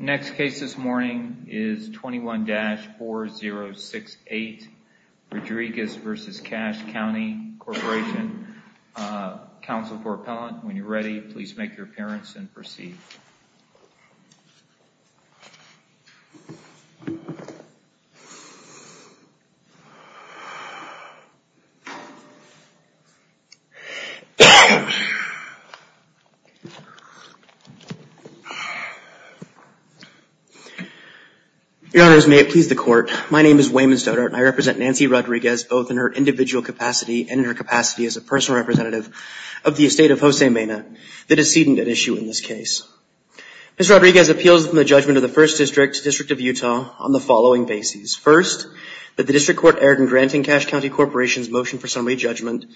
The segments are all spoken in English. Next case this morning is 21-4068 Rodriguez v. Cache County Corporation. Counsel for appellant, when you're ready, please make your appearance and proceed. Your honors, may it please the court, my name is Wayman Stoddart and I represent Nancy Rodriguez both in her individual capacity and in her capacity as a personal representative of the estate of Jose Mena, the decedent at issue in this case. Ms. Rodriguez appeals from the judgment of the First District, District of Utah, on the following bases. First, that the District Court erred in granting Cache County Corporation's motion for summary judgment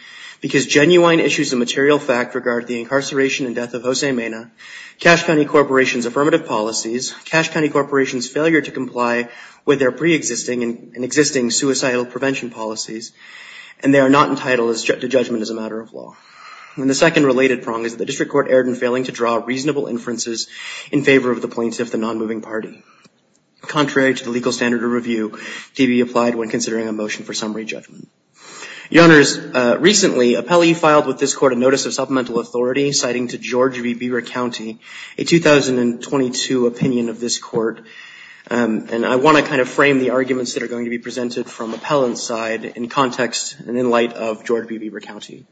because genuine issues of material fact regard the incarceration and death of Jose Mena, Cache County Corporation's affirmative policies, Cache County Corporation's failure to comply with their pre-existing and existing suicidal prevention policies, and they are not entitled to judgment as a matter of law. And the second related prong is that the District Court erred in failing to draw reasonable inferences in favor of the plaintiff, the non-moving party. Contrary to the legal standard of review, to be applied when considering a motion for summary judgment. Your honors, recently, Appellee filed with this court a notice of supplemental authority citing to George v. Beaver County, a 2022 opinion of this court. And I want to kind of frame the arguments that are going to be presented from Appellant's side in context and in light of George v. Beaver County.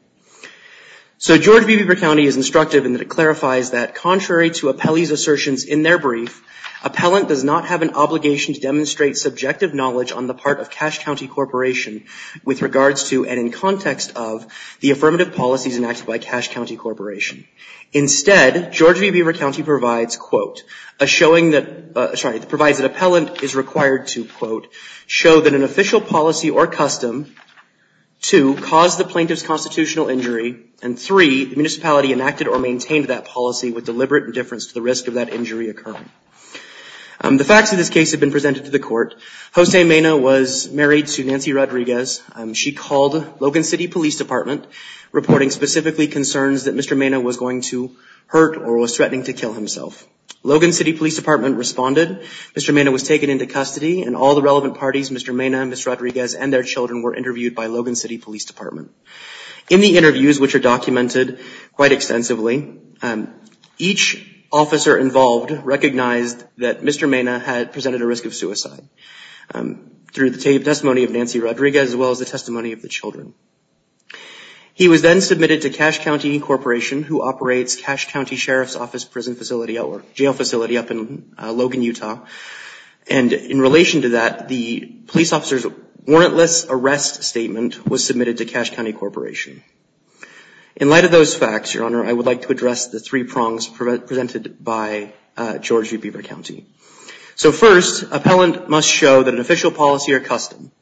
So George v. Beaver County is instructive in that it clarifies that contrary to Appellee's assertions in their brief, Appellant does not have an obligation to demonstrate subjective knowledge on the part of Cache County Corporation with regards to and in context of the affirmative policies enacted by Cache County Corporation. Instead, George v. Beaver County provides, quote, a showing that, sorry, provides that Appellant is required to, quote, show that an official policy or custom, two, caused the plaintiff's constitutional injury, and three, the municipality enacted or maintained that policy with deliberate indifference to the risk of that injury occurring. The facts of this case have been presented to the court. Jose Mena was married to Nancy Rodriguez. She called Logan City Police Department, reporting specifically concerns that Mr. Mena was going to hurt or was threatening to kill himself. Logan City Police Department responded. Mr. Mena was taken into custody, and all the relevant parties, Mr. Mena, Ms. Rodriguez, and their children were interviewed by Logan City Police Department. In the interviews, which are documented quite extensively, each officer involved recognized that Mr. Mena had presented a risk of suicide through the testimony of Nancy Rodriguez as well as the testimony of the children. He was then submitted to Cache County Corporation, who operates Cache County Sheriff's Office Prison Facility or Jail Facility up in Logan, Utah. And in relation to that, the police officer's warrantless arrest statement was submitted to Cache County Corporation. In light of those facts, Your Honor, I would like to address the three prongs presented by George v. Beaver County. So first, appellant must show that an official policy or custom.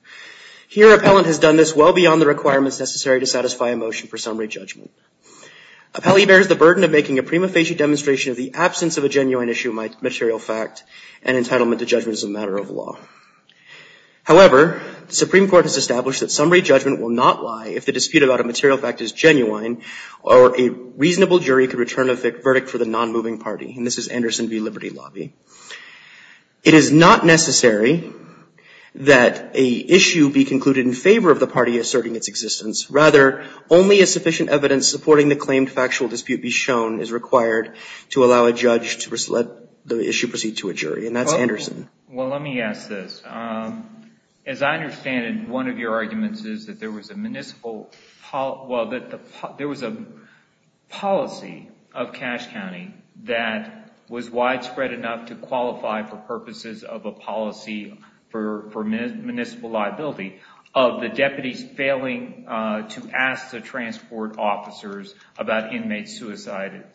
Here, appellant has done this well beyond the requirements necessary to satisfy a motion for summary judgment. Appellant bears the burden of making a prima facie demonstration of the absence of a genuine issue of material fact and entitlement to judgment as a matter of law. However, the Supreme Court has established that summary judgment will not lie if the dispute about a material fact is genuine or a reasonable jury could return a verdict for the non-moving party. And this is Anderson v. Liberty Lobby. It is not necessary that a issue be concluded in favor of the party asserting its existence. Rather, only a sufficient evidence supporting the claimed factual dispute be shown is required to allow a judge to let the issue proceed to a jury. And that's Anderson. Well, let me ask this. As I understand it, one of your arguments is that there was a municipal, well, that there was a policy of Cache County that was widespread enough to qualify for purposes of a policy for municipal liability of the deputies failing to ask the transport officers about inmate suicidal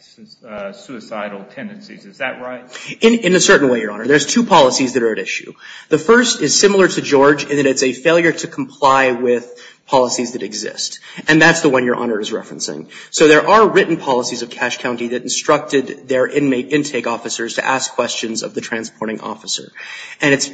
tendencies. Is that right? In a certain way, Your Honor. There's two policies that are at issue. The first is similar to George in that it's a failure to comply with policies that exist. And that's the one Your Honor is referencing. So there are written policies of Cache County that instructed their inmate intake officers to ask questions of the transporting officer. And it's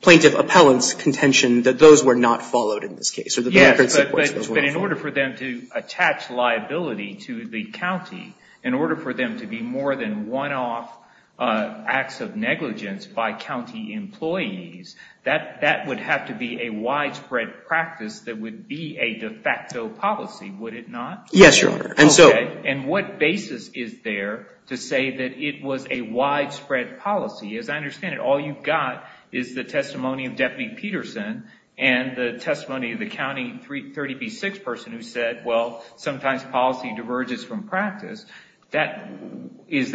Plaintiff Appellant's contention that those were not followed in this case. But in order for them to attach liability to the county, in order for them to be more than one-off acts of negligence by county employees, that would have to be a widespread practice that would be a de facto policy, would it not? Yes, Your Honor. And what basis is there to say that it was a widespread policy? As I understand it, all you've got is the testimony of Deputy Peterson and the testimony of the county 30B6 person who said, well, sometimes policy diverges from practice. Do you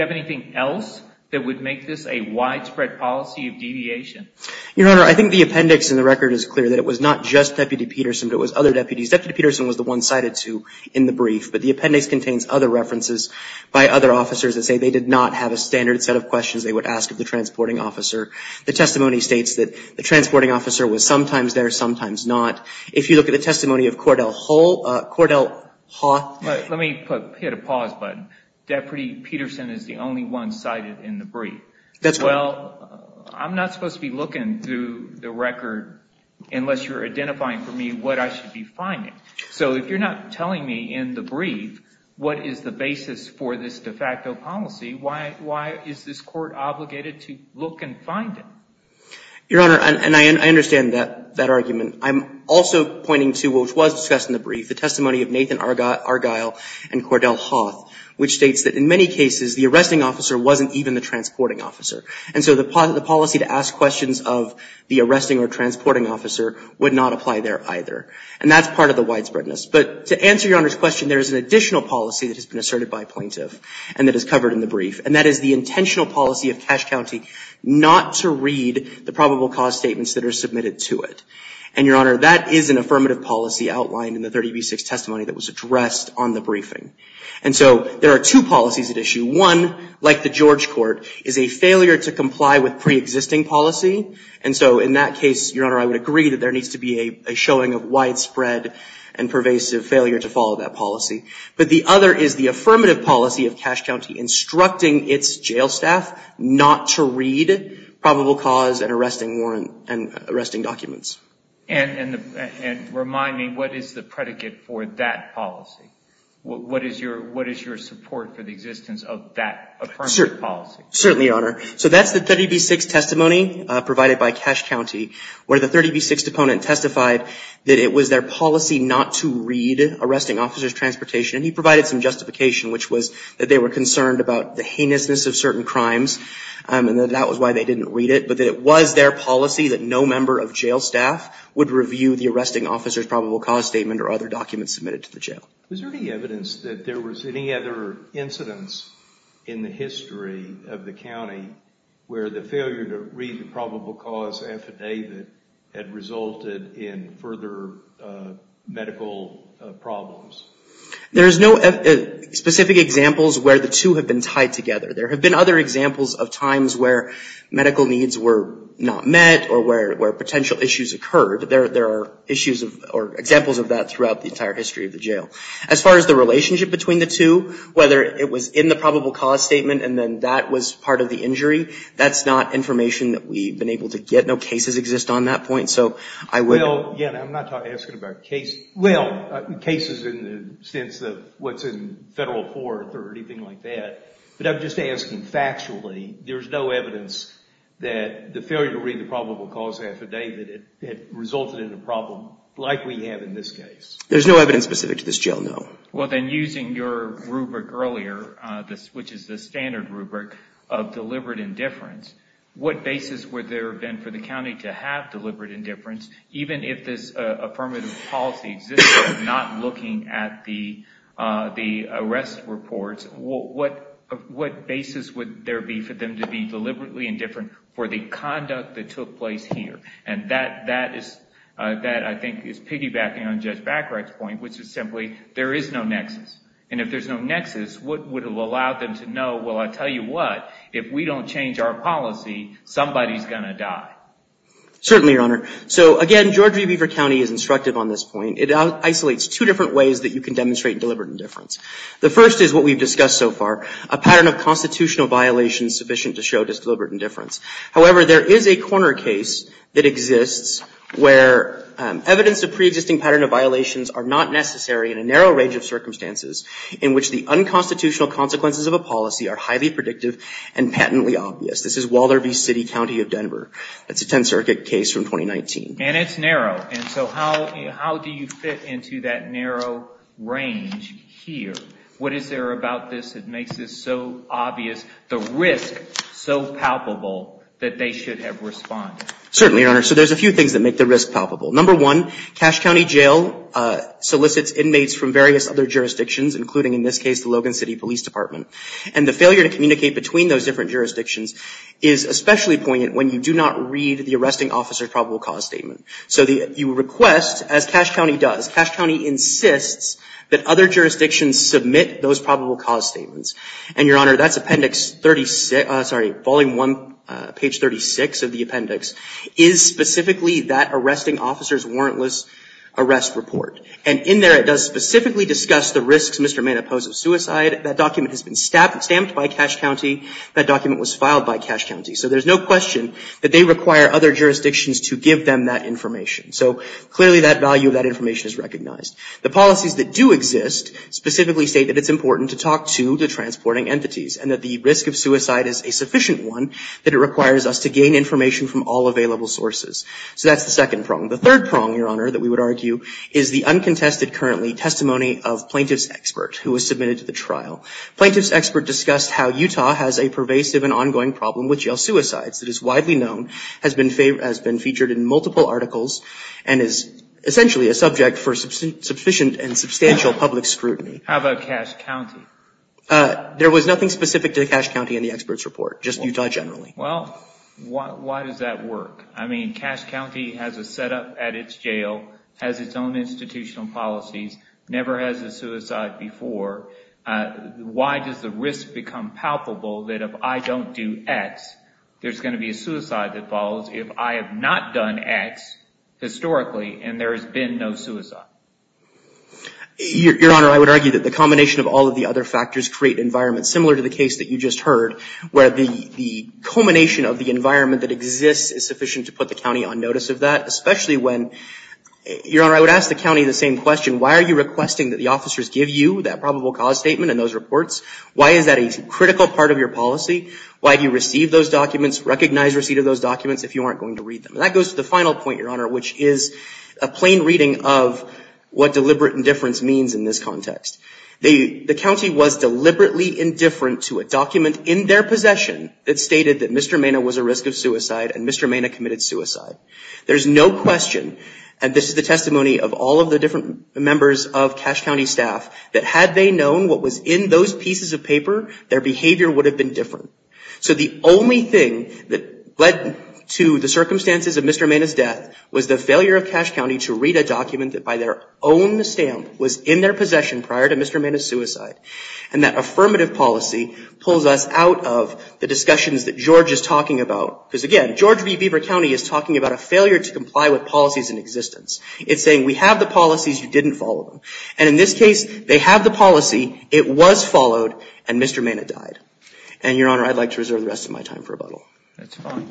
have anything else that would make this a widespread policy of deviation? Your Honor, I think the appendix in the record is clear that it was not just Deputy Peterson, but it was other deputies. Deputy Peterson was the one cited to in the brief. But the appendix contains other references by other officers that say they did not have a standard set of questions they would ask of the transporting officer. The testimony states that the transporting officer was sometimes there, sometimes not. If you look at the testimony of Cordell Hoth. Let me hit a pause button. Deputy Peterson is the only one cited in the brief. That's correct. Well, I'm not supposed to be looking through the record unless you're identifying for me what I should be finding. So if you're not telling me in the brief what is the basis for this de facto policy, why is this Court obligated to look and find it? Your Honor, and I understand that argument. I'm also pointing to what was discussed in the brief, the testimony of Nathan Argyle and Cordell Hoth, which states that in many cases the arresting officer wasn't even the transporting officer. And so the policy to ask questions of the arresting or transporting officer would not apply there either. And that's part of the widespreadness. But to answer Your Honor's question, there is an additional policy that has been asserted by plaintiff and that is covered in the brief. And that is the intentional policy of Cache County not to read the probable cause statements that are submitted to it. And, Your Honor, that is an affirmative policy outlined in the 30b-6 testimony that was addressed on the briefing. And so there are two policies at issue. One, like the George Court, is a failure to comply with preexisting policy. And so in that case, Your Honor, I would agree that there needs to be a showing of widespread and pervasive failure to follow that policy. But the other is the affirmative policy of Cache County instructing its jail staff not to read probable cause and arresting documents. And remind me, what is the predicate for that policy? What is your support for the existence of that affirmative policy? Certainly, Your Honor. So that's the 30b-6 testimony provided by Cache County where the 30b-6 deponent testified that it was their policy not to read arresting officers' transportation. And he provided some justification, which was that they were concerned about the heinousness of certain crimes. And that was why they didn't read it. But that it was their policy that no member of jail staff would review the arresting officers' probable cause statement or other documents submitted to the jail. Was there any evidence that there was any other incidents in the history of the county where the failure to read the probable cause affidavit had resulted in further medical problems? There is no specific examples where the two have been tied together. There have been other examples of times where medical needs were not met or where potential issues occurred. There are examples of that throughout the entire history of the jail. As far as the relationship between the two, whether it was in the probable cause statement and then that was part of the injury, that's not information that we've been able to get. No cases exist on that point. Well, again, I'm not asking about cases. Well, cases in the sense of what's in federal court or anything like that. But I'm just asking factually. There's no evidence that the failure to read the probable cause affidavit had resulted in a problem like we have in this case. There's no evidence specific to this jail, no. Well, then using your rubric earlier, which is the standard rubric of deliberate indifference, what basis would there have been for the county to have deliberate indifference, even if this affirmative policy existed, not looking at the arrest reports? What basis would there be for them to be deliberately indifferent for the conduct that took place here? And that, I think, is piggybacking on Judge Bacharach's point, which is simply there is no nexus. And if there's no nexus, what would have allowed them to know, well, I tell you what, if we don't change our policy, somebody's going to die? Certainly, Your Honor. So, again, George V. Beaver County is instructive on this point. It isolates two different ways that you can demonstrate deliberate indifference. The first is what we've discussed so far, a pattern of constitutional violations sufficient to show just deliberate indifference. However, there is a corner case that exists where evidence of preexisting pattern of violations are not necessary in a narrow range of circumstances in which the unconstitutional consequences of a policy are highly predictive and patently obvious. This is Walder V. City County of Denver. That's a Tenth Circuit case from 2019. And it's narrow. And so how do you fit into that narrow range here? What is there about this that makes this so obvious, the risk so palpable, that they should have responded? Certainly, Your Honor. So there's a few things that make the risk palpable. Number one, Cache County Jail solicits inmates from various other jurisdictions, including, in this case, the Logan City Police Department. And the failure to communicate between those different jurisdictions is especially poignant when you do not read the arresting officer's probable cause statement. So you request, as Cache County does, Cache County insists that other jurisdictions submit those probable cause statements. And, Your Honor, that's Appendix 36, sorry, Volume 1, Page 36 of the appendix, is specifically that arresting officer's warrantless arrest report. And in there, it does specifically discuss the risks Mr. Mann opposed of suicide. That document has been stamped by Cache County. That document was filed by Cache County. So there's no question that they require other jurisdictions to give them that information. So clearly, that value of that information is recognized. The policies that do exist specifically state that it's important to talk to the transporting entities and that the risk of suicide is a sufficient one that it requires us to gain information from all available sources. So that's the second prong. The third prong, Your Honor, that we would argue is the uncontested, currently, testimony of plaintiff's expert who was submitted to the trial. Plaintiff's expert discussed how Utah has a pervasive and ongoing problem with jail suicides that is widely known, has been featured in multiple articles, and is essentially a subject for sufficient and substantial public scrutiny. How about Cache County? There was nothing specific to Cache County in the expert's report, just Utah generally. Well, why does that work? I mean, Cache County has a setup at its jail, has its own institutional policies, never has a suicide before. Why does the risk become palpable that if I don't do X, there's going to be a suicide that follows if I have not done X, historically, and there has been no suicide? Your Honor, I would argue that the combination of all of the other factors create environments similar to the case that you just heard, where the culmination of the environment that exists is sufficient to put the county on notice of that, especially when, Your Honor, I would ask the county the same question. Why are you requesting that the officers give you that probable cause statement and those reports? Why is that a critical part of your policy? Why do you receive those documents, recognize receipt of those documents, if you aren't going to read them? And that goes to the final point, Your Honor, which is a plain reading of what deliberate indifference means in this context. The county was deliberately indifferent to a document in their possession that stated that Mr. Mena was at risk of suicide and Mr. Mena committed suicide. There's no question, and this is the testimony of all of the different members of Cache County staff, that had they known what was in those pieces of paper, their behavior would have been different. So the only thing that led to the circumstances of Mr. Mena's death was the failure of Cache County to read a document that by their own stamp was in their possession prior to Mr. Mena's suicide. And that affirmative policy pulls us out of the discussions that George is talking about. Because, again, George v. Beaver County is talking about a failure to comply with policies in existence. It's saying we have the policies, you didn't follow them. And in this case, they have the policy, it was followed, and Mr. Mena died. And, Your Honor, I'd like to reserve the rest of my time for rebuttal. That's fine.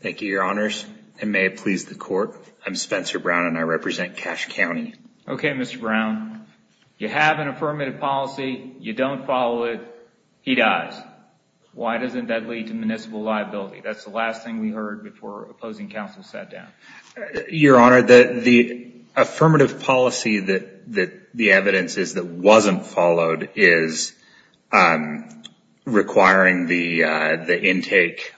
Thank you, Your Honors. And may it please the Court, I'm Spencer Brown and I represent Cache County. Okay, Mr. Brown. You have an affirmative policy, you don't follow it, he dies. Why doesn't that lead to municipal liability? That's the last thing we heard before opposing counsel sat down. Your Honor, the affirmative policy that the evidence is that wasn't followed is requiring the intake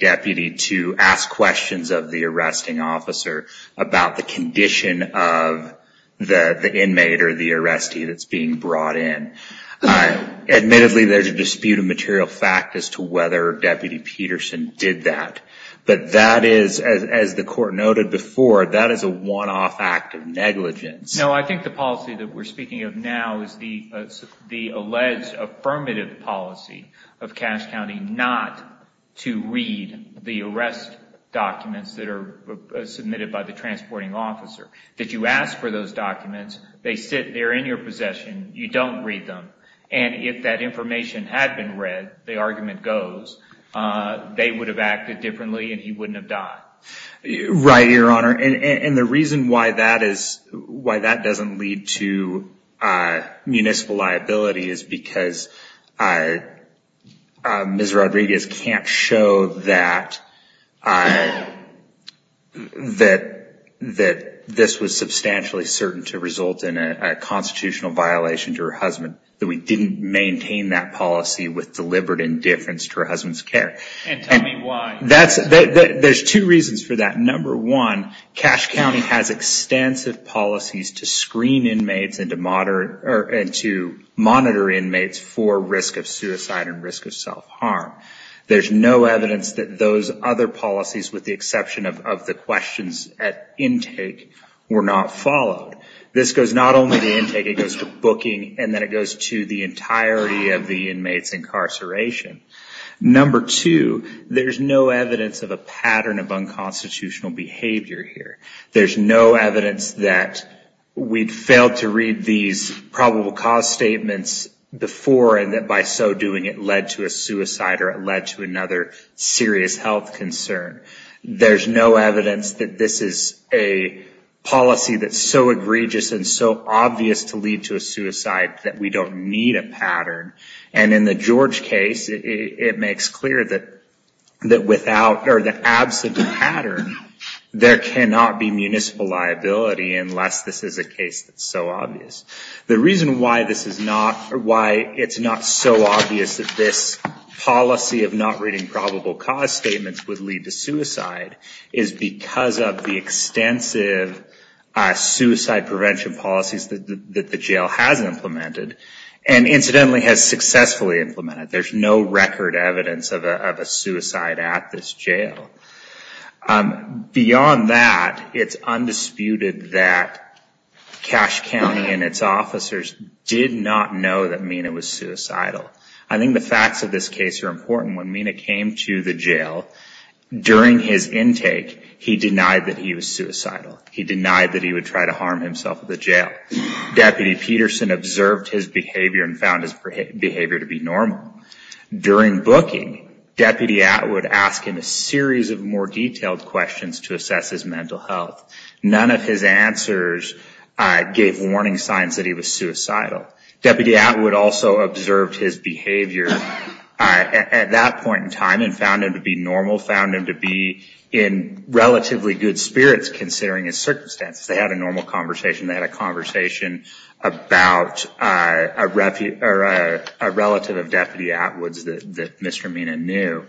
deputy to ask questions of the arresting officer about the condition of the inmate or the arrestee that's being brought in. Admittedly, there's a dispute of material fact as to whether Deputy Peterson did that. But that is, as the Court noted before, that is a one-off act of negligence. No, I think the policy that we're speaking of now is the alleged affirmative policy of Cache County not to read the arrest documents that are submitted by the transporting officer. That you ask for those documents, they sit there in your possession, you don't read them. And if that information had been read, the argument goes, they would have acted differently and he wouldn't have died. Right, Your Honor. And the reason why that doesn't lead to municipal liability is because Ms. Rodriguez can't show that this was substantially certain to result in a constitutional violation to her husband, that we didn't maintain that policy with deliberate indifference to her husband's care. And tell me why. There's two reasons for that. Number one, Cache County has extensive policies to screen inmates and to monitor inmates for risk of suicide and risk of self-harm. There's no evidence that those other policies, with the exception of the questions at intake, were not followed. This goes not only to intake, it goes to booking, and then it goes to the entirety of the inmate's incarceration. Number two, there's no evidence of a pattern of unconstitutional behavior here. There's no evidence that we'd failed to read these probable cause statements before, and that by so doing it led to a suicide or it led to another serious health concern. There's no evidence that this is a policy that's so egregious and so obvious to lead to a suicide that we don't need a pattern. And in the George case, it makes clear that without or the absence of a pattern, there cannot be municipal liability unless this is a case that's so obvious. The reason why it's not so obvious that this policy of not reading probable cause statements would lead to suicide is because of the extensive suicide prevention policies that the jail has implemented and incidentally has successfully implemented. There's no record evidence of a suicide at this jail. Beyond that, it's undisputed that Cache County and its officers did not know that Mina was suicidal. I think the facts of this case are important. When Mina came to the jail during his intake, he denied that he was suicidal. He denied that he would try to harm himself at the jail. Deputy Peterson observed his behavior and found his behavior to be normal. During booking, Deputy Atwood asked him a series of more detailed questions to assess his mental health. None of his answers gave warning signs that he was suicidal. Deputy Atwood also observed his behavior at that point in time and found him to be normal, found him to be in relatively good spirits considering his circumstances. They had a normal conversation. They had a conversation about a relative of Deputy Atwood's that Mr. Mina knew.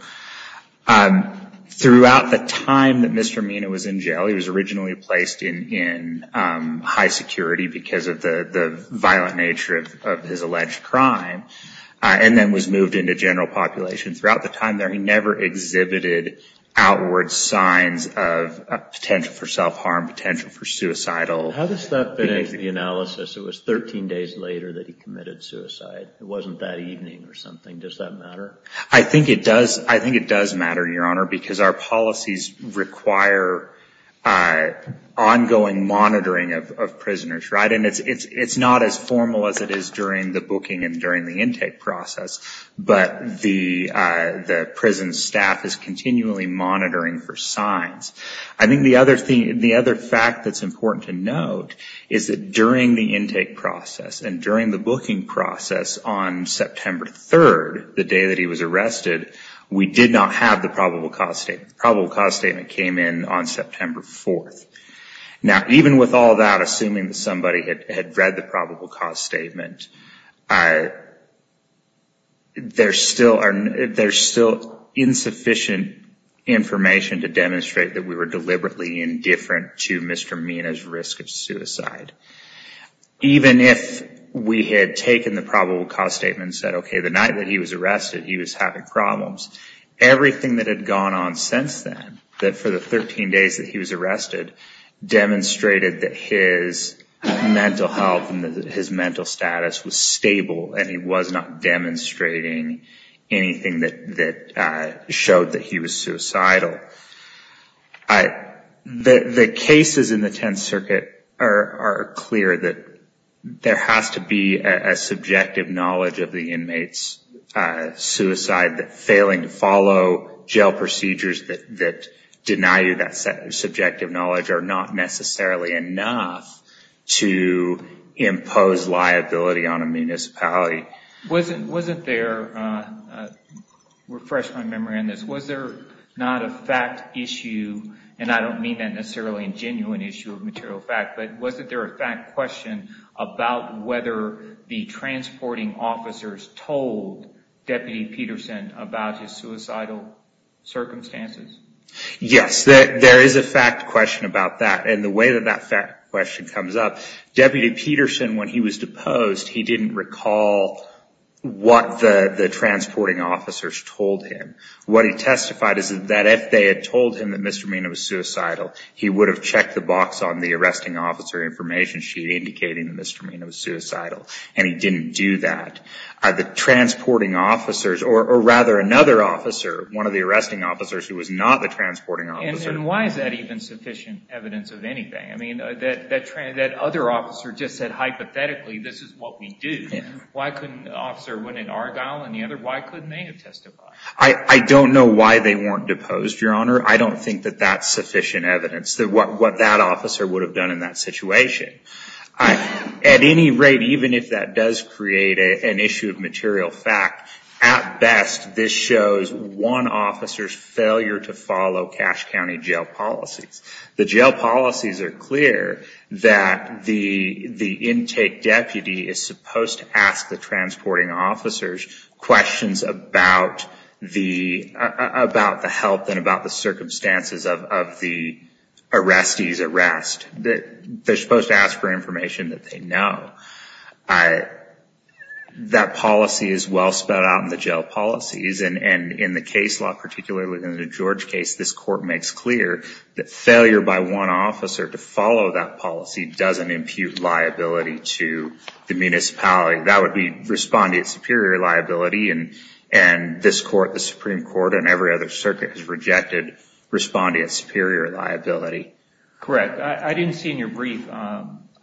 Throughout the time that Mr. Mina was in jail, he was originally placed in high security because of the violent nature of his alleged crime and then was moved into general population. Throughout the time there, he never exhibited outward signs of potential for self-harm, potential for suicidal behavior. How does that fit into the analysis? It was 13 days later that he committed suicide. It wasn't that evening or something. Does that matter? I think it does. I think it does matter, Your Honor, because our policies require ongoing monitoring of prisoners, right? And it's not as formal as it is during the booking and during the intake process, but the prison staff is continually monitoring for signs. I think the other fact that's important to note is that during the intake process and during the booking process on September 3rd, the day that he was arrested, we did not have the probable cause statement. The probable cause statement came in on September 4th. Now, even with all that, assuming that somebody had read the probable cause statement, there's still insufficient information to demonstrate that we were deliberately indifferent to Mr. Mina's risk of suicide. Even if we had taken the probable cause statement and said, okay, the night that he was arrested, he was having problems, everything that had gone on since then, that for the 13 days that he was arrested, demonstrated that his mental health and that his mental status was stable and he was not demonstrating anything that showed that he was suicidal. The cases in the Tenth Circuit are clear that there has to be a subjective knowledge of the inmate's suicide, that failing to follow jail procedures that deny you that subjective knowledge are not necessarily enough to, again, impose liability on a municipality. Wasn't there, refresh my memory on this, was there not a fact issue, and I don't mean that necessarily in genuine issue of material fact, but wasn't there a fact question about whether the transporting officers told Deputy Peterson about his suicidal circumstances? Yes, there is a fact question about that. And the way that that fact question comes up, Deputy Peterson, when he was deposed, he didn't recall what the transporting officers told him. What he testified is that if they had told him that Mr. Mina was suicidal, he would have checked the box on the arresting officer information sheet indicating that Mr. Mina was suicidal, and he didn't do that. The transporting officers, or rather another officer, one of the arresting officers who was not the transporting officer. And why is that even sufficient evidence of anything? I mean, that other officer just said, hypothetically, this is what we do. Why couldn't an officer win in Argyle and the other? Why couldn't they have testified? I don't know why they weren't deposed, Your Honor. I don't think that that's sufficient evidence of what that officer would have done in that situation. At any rate, even if that does create an issue of material fact, at best, this shows one officer's failure to follow Cache County jail policies. The jail policies are clear that the intake deputy is supposed to ask the transporting officers questions about the health and about the circumstances of the arrestee's arrest. They're supposed to ask for information that they know. That policy is well spelled out in the jail policies. And in the case law, particularly in the George case, this Court makes clear that failure by one officer to follow that policy doesn't impute liability to the municipality. That would be responding to superior liability. And this Court, the Supreme Court, and every other circuit has rejected responding to superior liability. Correct. I didn't see in your brief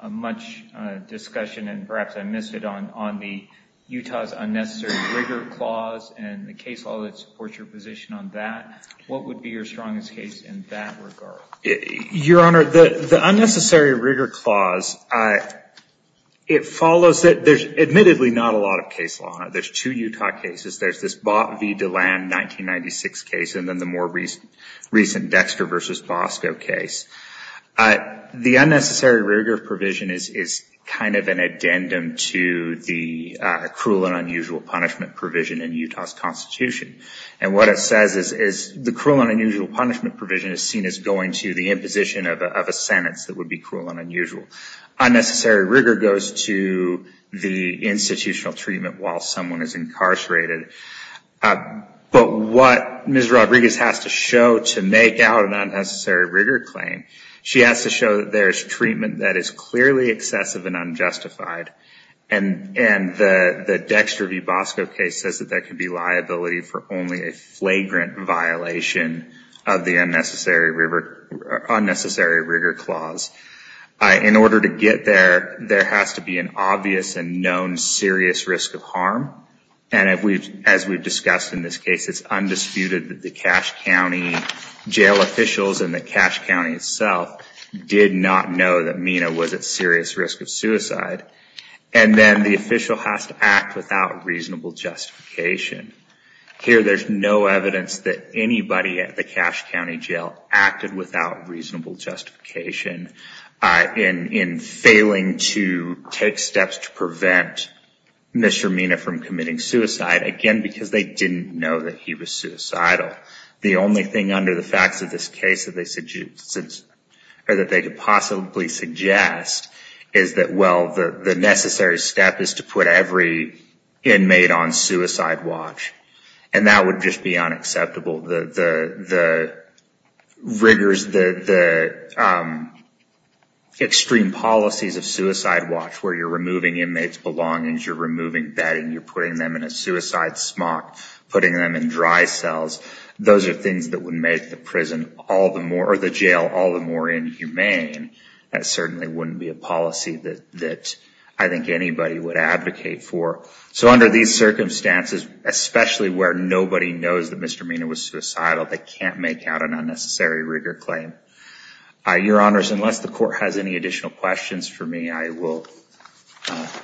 much discussion, and perhaps I missed it, on the Utah's unnecessary rigor clause and the case law that supports your position on that. What would be your strongest case in that regard? Your Honor, the unnecessary rigor clause, it follows that there's admittedly not a lot of case law. There's two Utah cases. There's this Bott v. DeLand 1996 case and then the more recent Dexter v. Bosco case. The unnecessary rigor provision is kind of an addendum to the cruel and unusual punishment provision in Utah's Constitution. And what it says is the cruel and unusual punishment provision is seen as going to the imposition of a sentence that would be cruel and unusual. Unnecessary rigor goes to the institutional treatment while someone is incarcerated. But what Ms. Rodriguez has to show to make out an unnecessary rigor claim, she has to show that there's treatment that is clearly excessive and unjustified. And the Dexter v. Bosco case says that that could be liability for only a flagrant violation of the unnecessary rigor clause. In order to get there, there has to be an obvious and known serious risk of harm. And as we've discussed in this case, it's undisputed that the Cache County jail officials and the Cache County itself did not know that Mina was at serious risk of suicide. And then the official has to act without reasonable justification. Here, there's no evidence that anybody at the Cache County jail acted without reasonable justification in failing to take steps to prevent Mr. Mina from committing suicide. Again, because they didn't know that he was suicidal. The only thing under the facts of this case that they could possibly suggest is that, well, the necessary step is to put every inmate on suicide watch. And that would just be unacceptable. The rigors, the extreme policies of suicide watch, where you're removing inmates' belongings, you're removing bedding, you're putting them in a suicide smock, putting them in dry cells, those are things that would make the prison all the more, or the jail, all the more inhumane. That certainly wouldn't be a policy that I think anybody would advocate for. So under these circumstances, especially where nobody knows that Mr. Mina was suicidal, they can't make out an unnecessary rigor claim. Your Honors, unless the Court has any additional questions for me, I will...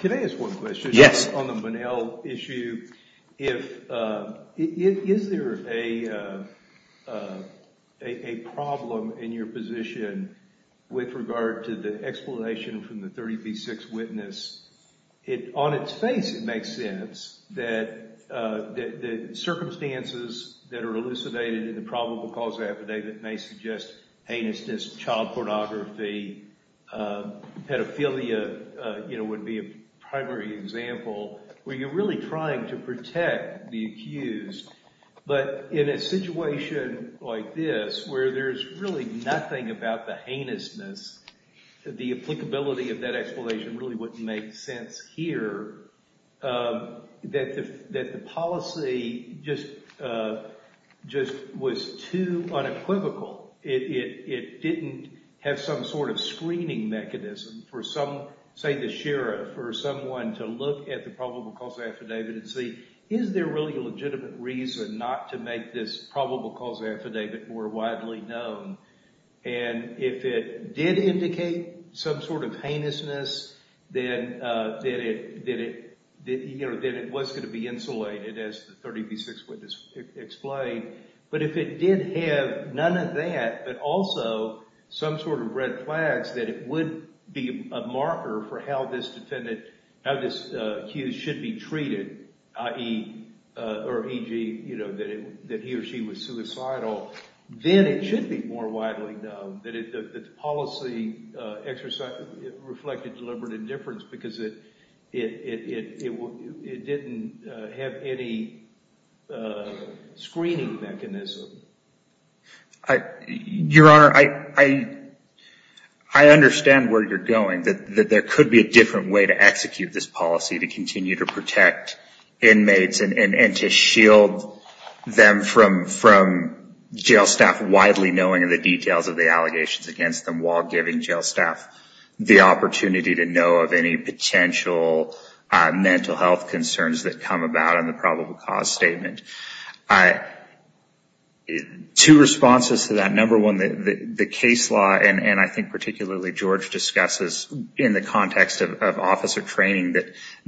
Can I ask one question? Yes. Just on the Bunnell issue, is there a problem in your position with regard to the explanation from the 30 v. 6 witness? On its face, it makes sense that the circumstances that are elucidated in the probable cause affidavit may suggest heinousness, child pornography. Pedophilia would be a primary example, where you're really trying to protect the accused. But in a situation like this, where there's really nothing about the heinousness, the applicability of that explanation really wouldn't make sense here, that the policy just was too unequivocal. It didn't have some sort of screening mechanism for some, say the sheriff, or someone to look at the probable cause affidavit and see, is there really a legitimate reason not to make this probable cause affidavit more widely known? And if it did indicate some sort of heinousness, then it was going to be insulated, as the 30 v. 6 witness explained. But if it did have none of that, but also some sort of red flags that it would be a marker for how this accused should be treated, i.e. that he or she was suicidal, then it should be more widely known that the policy reflected deliberate indifference because it didn't have any screening mechanism. Your Honor, I understand where you're going. There could be a different way to execute this policy to continue to protect inmates and to shield them from jail staff widely knowing the details of the allegations against them while giving jail staff the opportunity to know of any potential mental health concerns that come about in the probable cause statement. Two responses to that. Number one, the case law, and I think particularly George discusses in the context of officer training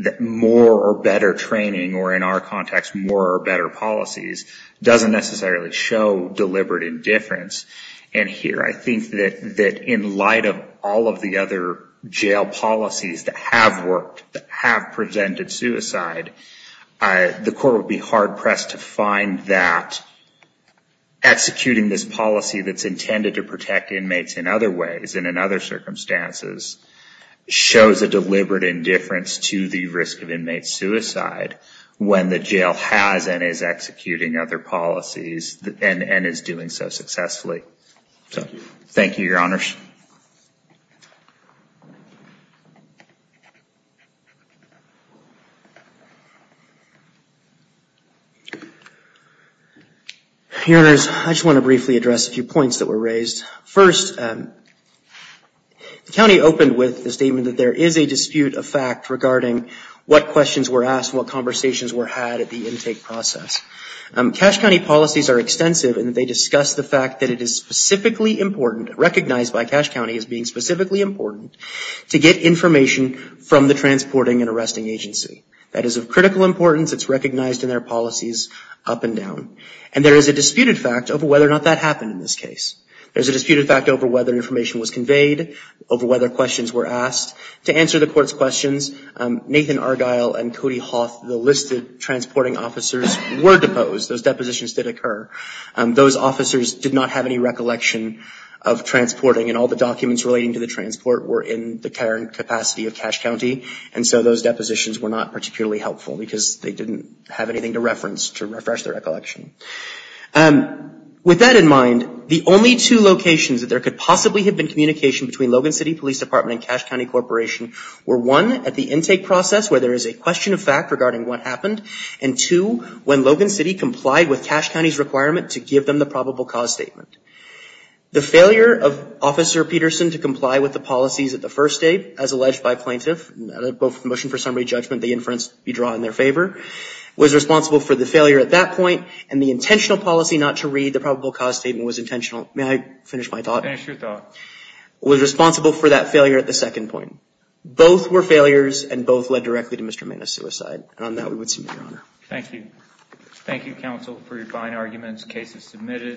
that more or better training, or in our context more or better policies, doesn't necessarily show deliberate indifference. And here I think that in light of all of the other jail policies that have worked, that have presented suicide, the court would be hard-pressed to find that executing this policy that's intended to protect inmates in other ways and in other circumstances shows a deliberate indifference to the risk of inmate suicide when the jail has and is executing other policies and is doing so successfully. Thank you, Your Honors. Your Honors, I just want to briefly address a few points that were raised. First, the county opened with the statement that there is a dispute of fact regarding what questions were asked and what conversations were had at the intake process. Cache County policies are extensive in that they discuss the fact that it is specifically important, recognized by Cache County as being specifically important, to get information from the transporting and arresting agency. That is of critical importance. It's recognized in their policies up and down. And there is a disputed fact over whether or not that happened in this case. There's a disputed fact over whether information was conveyed, over whether questions were asked. To answer the court's questions, Nathan Argyle and Cody Hoth, the listed transporting officers, were deposed. Those depositions did occur. Those officers did not have any recollection of transporting, and all the documents relating to the transport were in the current capacity of Cache County. And so those depositions were not particularly helpful because they didn't have anything to reference to refresh their recollection. With that in mind, the only two locations that there could possibly have been communication between Logan City Police Department and Cache County Corporation were, one, at the intake process where there is a question of fact regarding what happened, and two, when Logan City complied with Cache County's requirement to give them the probable cause statement. The failure of Officer Peterson to comply with the policies at the first date, as alleged by plaintiff, both motion for summary judgment, the inference be drawn in their favor, was responsible for the failure at that point. And the intentional policy not to read the probable cause statement was intentional. May I finish my thought? Finish your thought. Was responsible for that failure at the second point. Both were failures, and both led directly to Mr. Manna's suicide. And on that, we would submit your honor. Thank you. Thank you, counsel, for your fine arguments. Case is submitted.